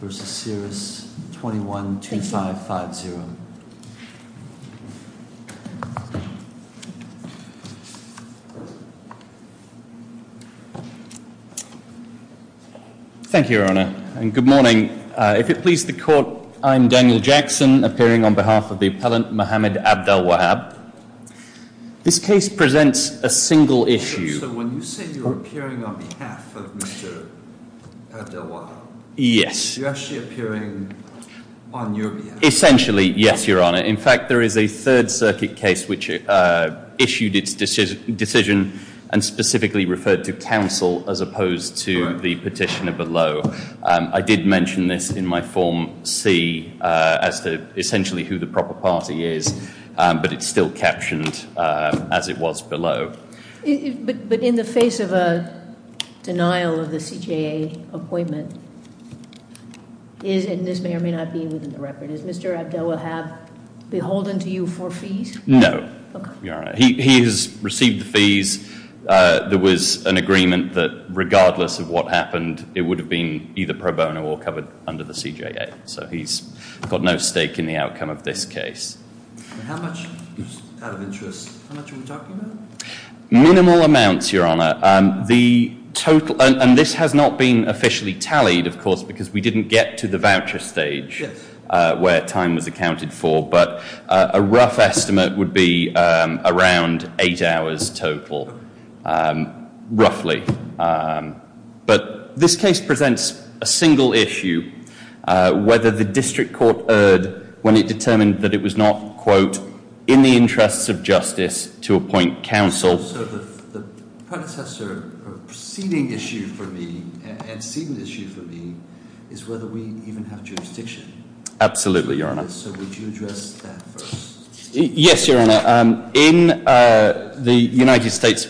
v. Siris 212550. Thank you, Your Honour, and good morning. If it pleases the Court, I am Daniel Jackson, appearing on behalf of the appellant Mohamed Abdelwahab. This case presents a single issue. So when you say you're appearing on behalf of Mr. Abdelwahab, you're actually appearing on your behalf? Essentially, yes, Your Honour. In fact, there is a Third Circuit case which issued its decision and specifically referred to counsel as opposed to the petitioner below. I did mention this in my Form C as to essentially who the proper party is, but it's still captioned as it was below. But in the face of a denial of the CJA appointment, and this may or may not be within the record, is Mr. Abdelwahab beholden to you for fees? No, Your Honour. He has received the fees. There was an agreement that regardless of what happened, it would have been either pro bono or covered under the CJA. So he's got no stake in the outcome of this case. Minimal amounts, Your Honour. And this has not been officially tallied, of course, because we didn't get to the voucher stage where time was accounted for, but a rough estimate would be around eight hours total, roughly. But this case presents a single issue, whether the district court erred when it determined that it was not, quote, in the interests of justice to appoint counsel. So the predecessor or preceding issue for me, and seeded issue for me, is whether we even have jurisdiction. Absolutely, Your Honour. So would you address that first? Yes, Your Honour. In the United States,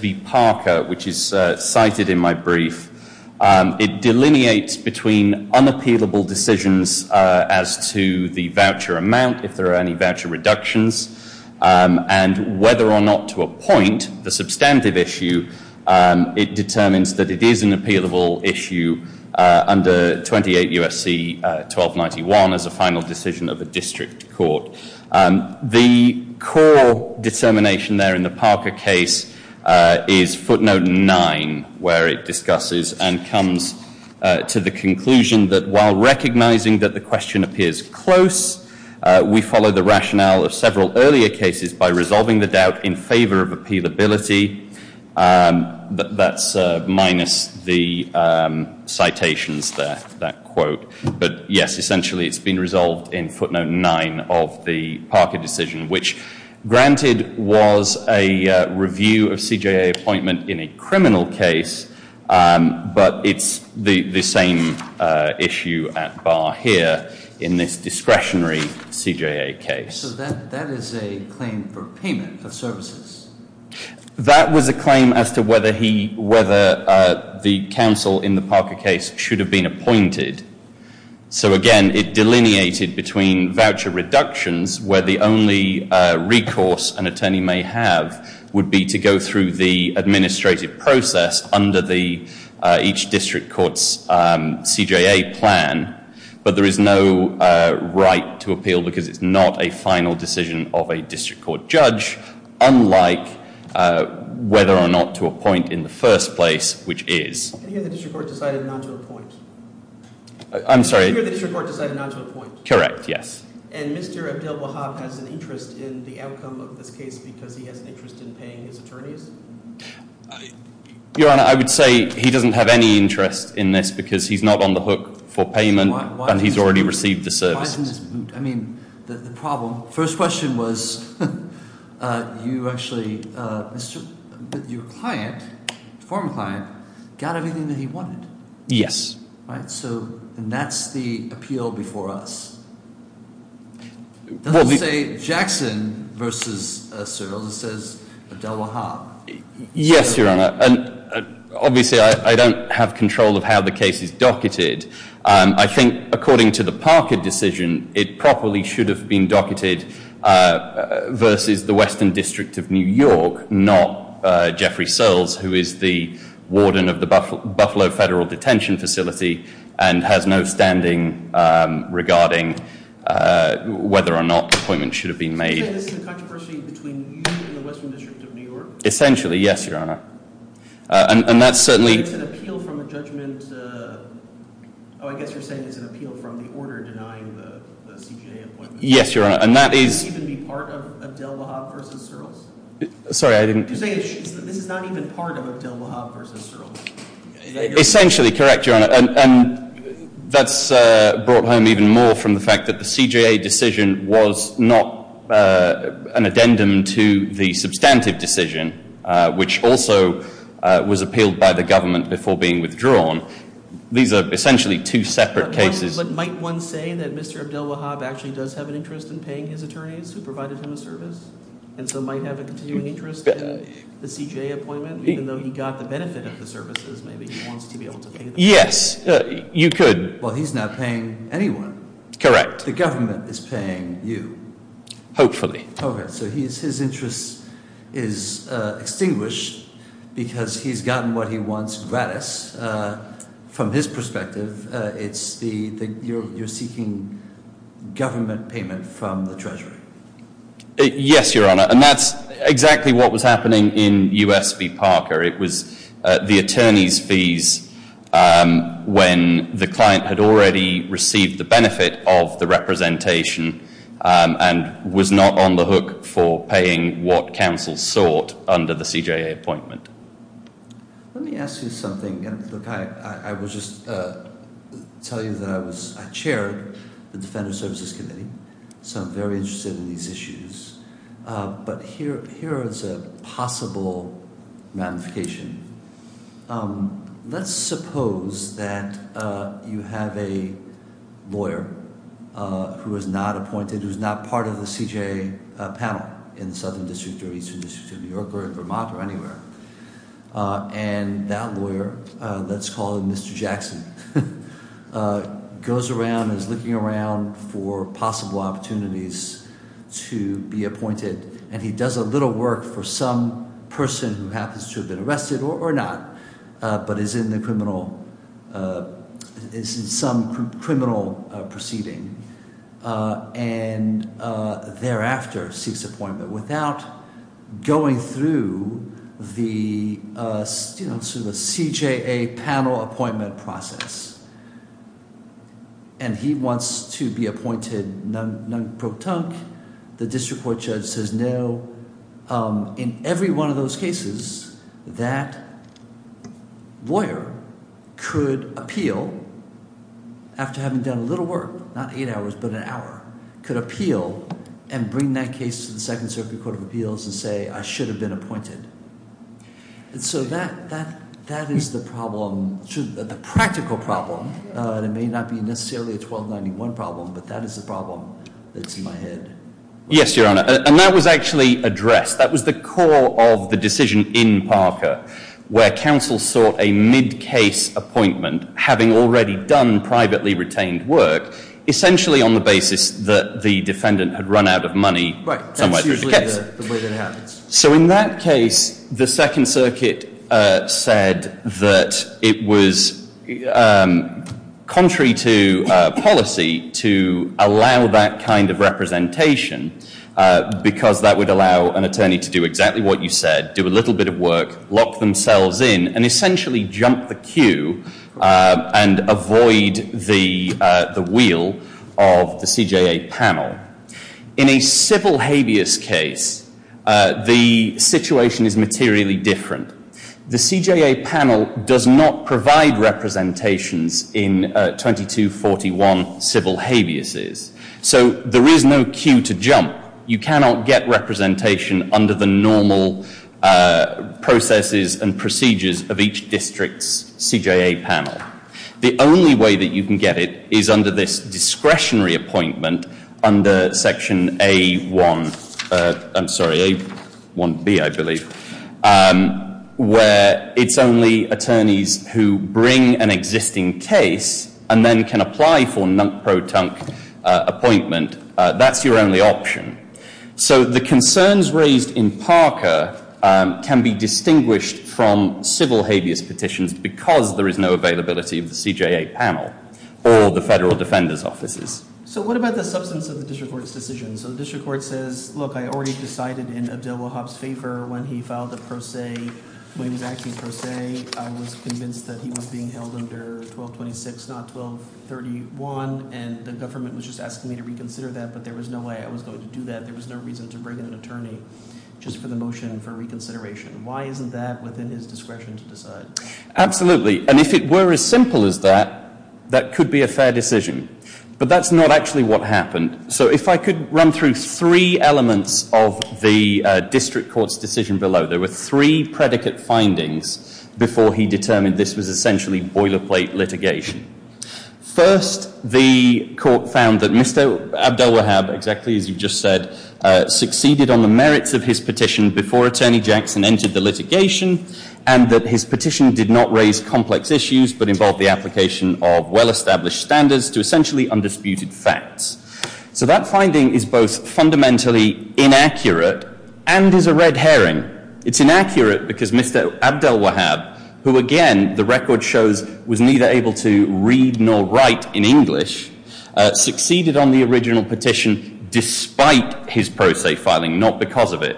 it delineates between unappealable decisions as to the voucher amount, if there are any voucher reductions, and whether or not to appoint the substantive issue, it determines that it is an appealable issue under 28 U.S.C. 1291 as a final decision of the district court. The core determination there in the Parker case is footnote 9, where it discusses and comes to the conclusion that while recognizing that the question appears close, we follow the rationale of several earlier cases by resolving the doubt in favor of appealability. That's minus the citations there, that quote. But yes, essentially it's been resolved in the Parker decision, which granted was a review of CJA appointment in a criminal case, but it's the same issue at bar here in this discretionary CJA case. So that is a claim for payment for services? That was a claim as to whether the counsel in the Parker case should have been appointed. So again, it delineated between voucher reductions, where the only recourse an attorney may have would be to go through the administrative process under each district court's CJA plan, but there is no right to appeal because it's not a final decision of a district court judge, unlike whether or not to appoint in the first place, which is? And here the district court decided not to appoint? I'm sorry? Here the district court decided not to appoint? Correct, yes. And Mr. Abdel-Wahab has an interest in the outcome of this case because he has an interest in paying his attorneys? Your Honor, I would say he doesn't have any interest in this because he's not on the hook for payment and he's already received the services. Why isn't this moot? I mean, the problem, first question was, you actually, your client, former client, got everything that he wanted? Yes. Right, so, and that's the appeal before us. It doesn't say Jackson versus Searles, it says Abdel-Wahab. Yes, Your Honor, and obviously I don't have control of how the case is docketed. I think according to the Parker decision, it properly should have been versus the Western District of New York, not Jeffrey Searles, who is the warden of the Buffalo Federal Detention Facility and has no standing regarding whether or not the appointment should have been made. You're saying this is a controversy between you and the Western District of New York? Essentially, yes, Your Honor. And that's certainly... It's an appeal from the judgment... Oh, I guess you're saying it's an appeal from the Abdel-Wahab versus Searles? Sorry, I didn't... You're saying this is not even part of Abdel-Wahab versus Searles? Essentially, correct, Your Honor, and that's brought home even more from the fact that the CJA decision was not an addendum to the substantive decision, which also was appealed by the government before being withdrawn. These are essentially two separate cases. But might one say that Mr. Abdel-Wahab actually does have an interest in paying his attorneys who provided him a service and so might have a continuing interest in the CJA appointment? Even though he got the benefit of the services, maybe he wants to be able to pay them? Yes, you could. Well, he's not paying anyone. Correct. The government is paying you. Hopefully. Okay, so his interest is extinguished because he's gotten what he Yes, Your Honor, and that's exactly what was happening in U.S. v. Parker. It was the attorneys' fees when the client had already received the benefit of the representation and was not on the hook for paying what counsel sought under the CJA appointment. Let me ask you something. I will just tell you that I chaired the Defender Services Committee, so I'm very interested in these issues, but here is a possible ramification. Let's suppose that you have a lawyer who is not appointed, who is not part of the CJA panel in the Southern District or Eastern District of New York or Vermont or anywhere, and that lawyer, let's call him Mr. Jackson, goes around and is looking around for possible opportunities to be appointed, and he does a little work for some person who happens to have been arrested or not, but is in the criminal... is in some criminal proceeding and thereafter seeks appointment without going through the CJA panel appointment process, and he wants to be appointed, and that lawyer could appeal after having done a little work, not eight hours, but an hour, could appeal and bring that case to the Second Circuit Court of Appeals and say, I should have been appointed. And so that is the problem, the practical problem, and it may not be necessarily a 1291 problem, but that is the problem that's in my head. Yes, Your Honor, and that was actually addressed. That was the core of the decision in Parker, where counsel sought a mid-case appointment, having already done privately retained work, essentially on the basis that the defendant had run out of money somewhere through the case. So in that case, the Second Circuit said that it was contrary to policy to allow that kind of representation, because that would allow an attorney to do exactly what you said, do a little bit of work, lock themselves in, and essentially jump the queue and avoid the wheel of the CJA panel. In a civil habeas case, the situation is materially different. The CJA panel does not provide representations in 2241 civil habeases. So there is no queue to jump. You cannot get representation under the normal processes and procedures of each district's CJA panel. The only way that you can get it is under this discretionary appointment under Section A1B, I believe, where it's only attorneys who bring an existing case and then can apply for non-proton appointment. That's your only option. So the concerns raised in Parker can be distinguished from civil habeas petitions because there is no availability of the CJA panel or the federal defender's offices. So what about the substance of the district court's decision? So the district court says, look, I already decided in Abdelwahab's favor when he filed a pro se, when he was acting pro se, I was convinced that he was being held under 1226, not 1231, and the government was just asking me to reconsider that, but there was no way I was going to do that. There was no reason to bring in an attorney just for the motion for reconsideration. Why isn't that within his discretion to decide? Absolutely. And if it were as simple as that, that could be a fair decision. But that's not actually what happened. So if I could run through three elements of the district court's decision below, there were three predicate findings before he determined this was essentially boilerplate litigation. First, the court found that Mr. Abdelwahab had the merits of his petition before Attorney Jackson entered the litigation and that his petition did not raise complex issues but involved the application of well-established standards to essentially undisputed facts. So that finding is both fundamentally inaccurate and is a red herring. It's inaccurate because Mr. Abdelwahab, who again the record shows was neither able to read nor write in English, succeeded on the original petition despite his pro se filing, not because of it.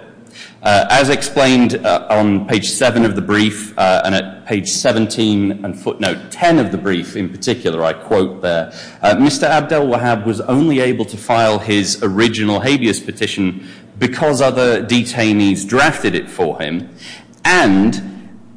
As explained on page 7 of the brief and at page 17 and footnote 10 of the brief in particular, I quote there, Mr. Abdelwahab was only able to file his original habeas petition because other detainees drafted it for him and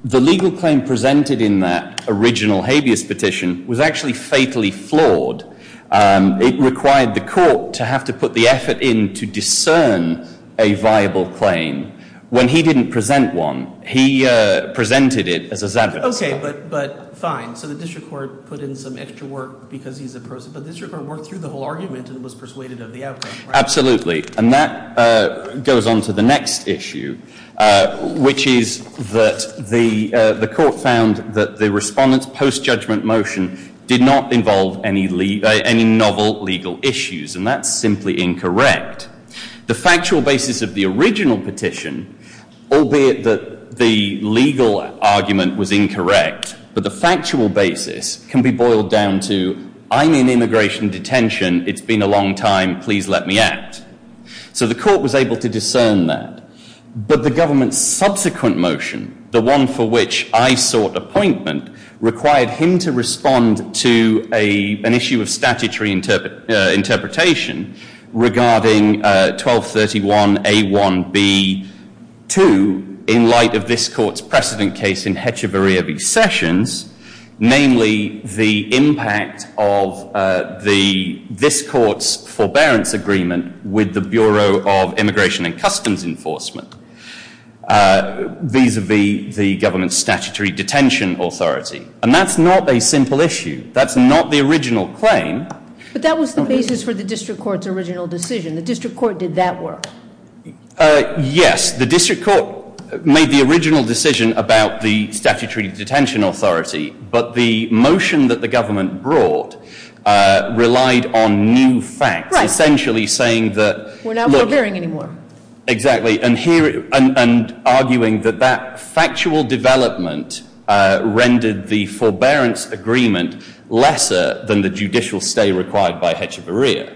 the legal claim presented in that original habeas petition was actually fatally flawed. It required the court to have to put the effort in to discern a viable claim when he didn't present one. He presented it as a zapper. Okay, but fine. So the district court put in some extra work because he's a pro se. But the district court worked through the whole argument and was persuaded of the outcome. Absolutely. And that goes on to the next issue, which is that the court found that the respondent's post-judgment motion did not involve any novel legal issues and that's simply incorrect. The factual basis of the original petition, albeit that the legal argument was incorrect, but the factual basis of the original petition was incorrect. So the court was able to discern that. But the government's subsequent motion, the one for which I sought appointment, required him to respond to an issue of statutory interpretation regarding 1231 A1 B2 in light of this court's precedent case in the United States. And that was the basis for the district court's original decision. The district court did that work? Yes. The district court made the original decision about the statutory detention authority, but the motion that the government brought relied on new facts, essentially saying that... We're not forbearing anymore. Exactly. And arguing that that factual development rendered the forbearance agreement lesser than the judicial stay required by Hecheverria.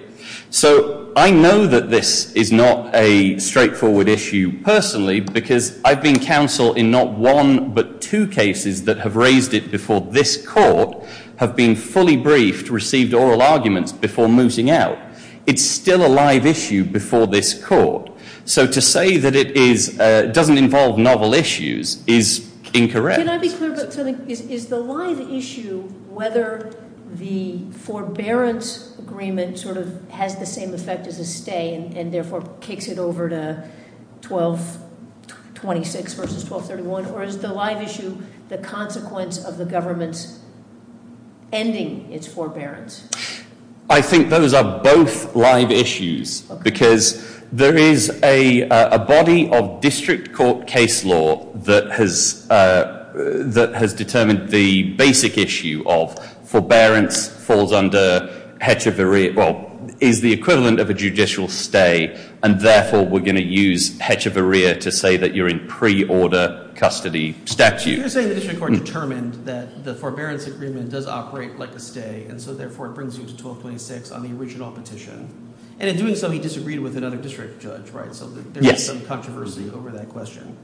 So I know that this is not a straightforward issue personally because I've been counsel in not one but two cases that have raised it before this court have been fully briefed, received oral arguments before mooting out. It's still a live issue before this court. So to say that it doesn't involve novel issues is incorrect. Can I be clear about something? Is the live issue whether the forbearance agreement sort of has the same effect as a stay and therefore kicks it over to 1226 versus 1231? Or is the live issue the consequence of the government's ending its forbearance? I think those are both live issues because there is a body of district court case law that has determined the basic issue of forbearance falls under Hecheverria. Well, is the equivalent of a judicial stay and therefore we're going to use Hecheverria to say that you're in pre-order custody statute. You're saying the district court determined that the forbearance agreement does operate like a stay and so therefore it brings you to 1226 on the original petition. And in doing so he disagreed with another district judge, right? So there is some controversy over that question.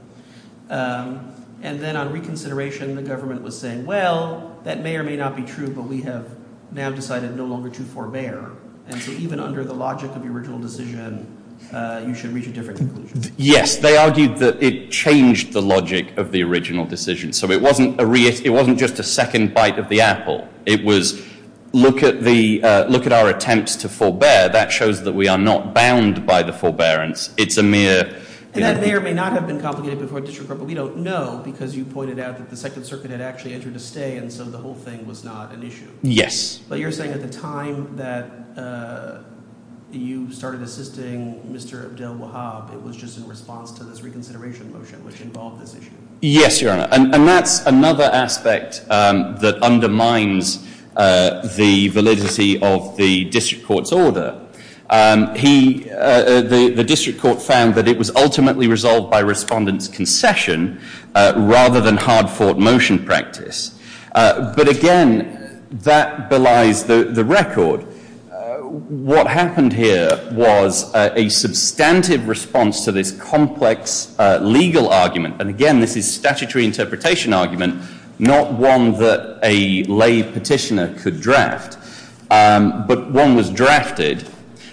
And then on reconsideration the government was saying well, that may or may not be true but we have now decided no longer to forbear. And so even under the logic of the original decision you should reach a different conclusion. Yes, they argued that it changed the logic of the original decision. So it wasn't just a second bite of the apple. It was look at our attempts to forbearance. It's a mere. And that may or may not have been complicated before a district court but we don't know because you pointed out that the Second Circuit had actually entered a stay and so the whole thing was not an issue. Yes. But you're saying at the time that you started assisting Mr. Abdel Wahab it was just in response to this reconsideration motion which involved this issue. Yes, Your Honor. And that's another aspect that undermines the validity of the district court's order. The district court found that it was ultimately resolved by respondents' concession rather than hard motion practice. But again, that belies the record. What happened here was a substantive response to this complex legal argument. And again, this is a statutory interpretation argument, not one that a lay petitioner could draft. But one was drafted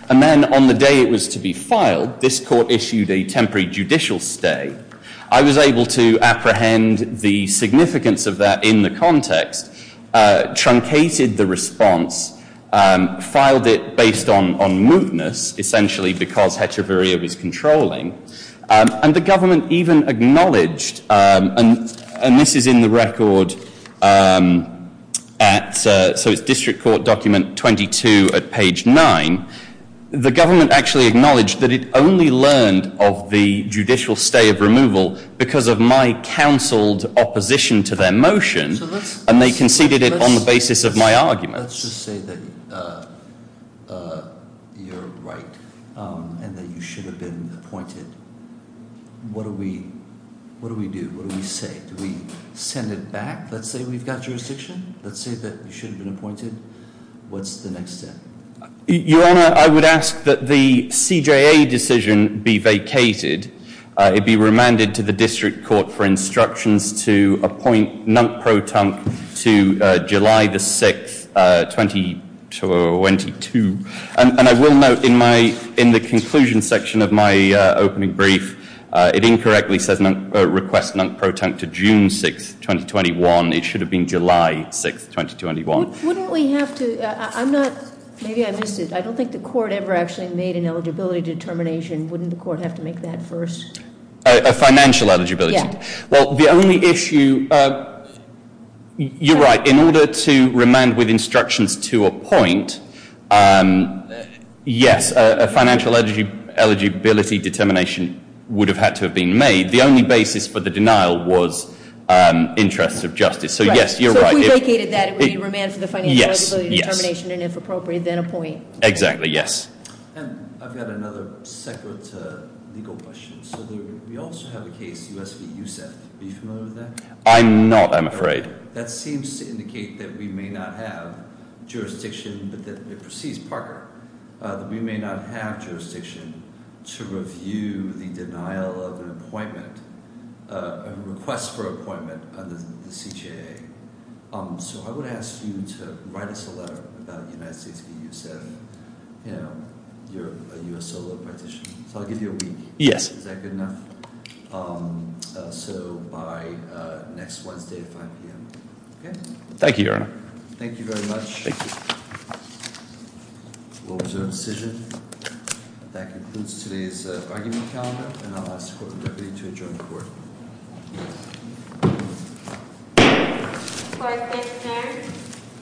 and then on the day it was to be filed, this court issued a temporary judicial stay. I was able to apprehend the significance of that in the context, truncated the response, filed it based on mootness, essentially because heteroviria was controlling, and the government even acknowledged, and this is in the record at, so it's district court document 22 at page 9, the government actually acknowledged that it only learned of the judicial stay of removal because of my counseled opposition to their motion and they conceded it on the basis of my argument. Let's just say that you're right and that you should have been appointed. What do we do? What do we say? Do we send it back? Let's say we've got jurisdiction. Let's say that you should have been appointed. What's the next step? Your Honor, I would ask that the CJA decision be vacated. It be remanded to the district court for instructions to appoint Nunt Pro Tunk to July 6, 2022. And I will note in the conclusion section of my opening brief, it incorrectly says request Nunt Pro Tunk to June 6, 2021. It should have been July 6, 2021. Wouldn't we have to, I'm not, maybe I missed it. I don't think the court ever actually made an eligibility determination. Wouldn't the court have to make that first? A financial eligibility? Yeah. Well, the only issue, you're right, in order to remand with instructions to appoint yes, a financial eligibility determination would have had to have been made. The only basis for the denial was interests of justice. So yes, you're right. So if we vacated that, it would be remanded for the financial eligibility determination and if appropriate, then appoint. Exactly. Yes. I've got another separate legal question. So we also have a case, U.S. v. USEF. Are you familiar with that? I'm not, I'm afraid. That seems to indicate that we may not have jurisdiction, but that it precedes Parker, that we may not have jurisdiction to review the denial of an appointment, a request for appointment under the CJA. So I would ask you to write us a letter about the United States v. USEF. You're a U.S. solo practitioner. So I'll give you a week. Yes. Is that good enough? So by next Wednesday at 5 p.m. Thank you, Your Honor. Thank you very much. That concludes today's argument calendar.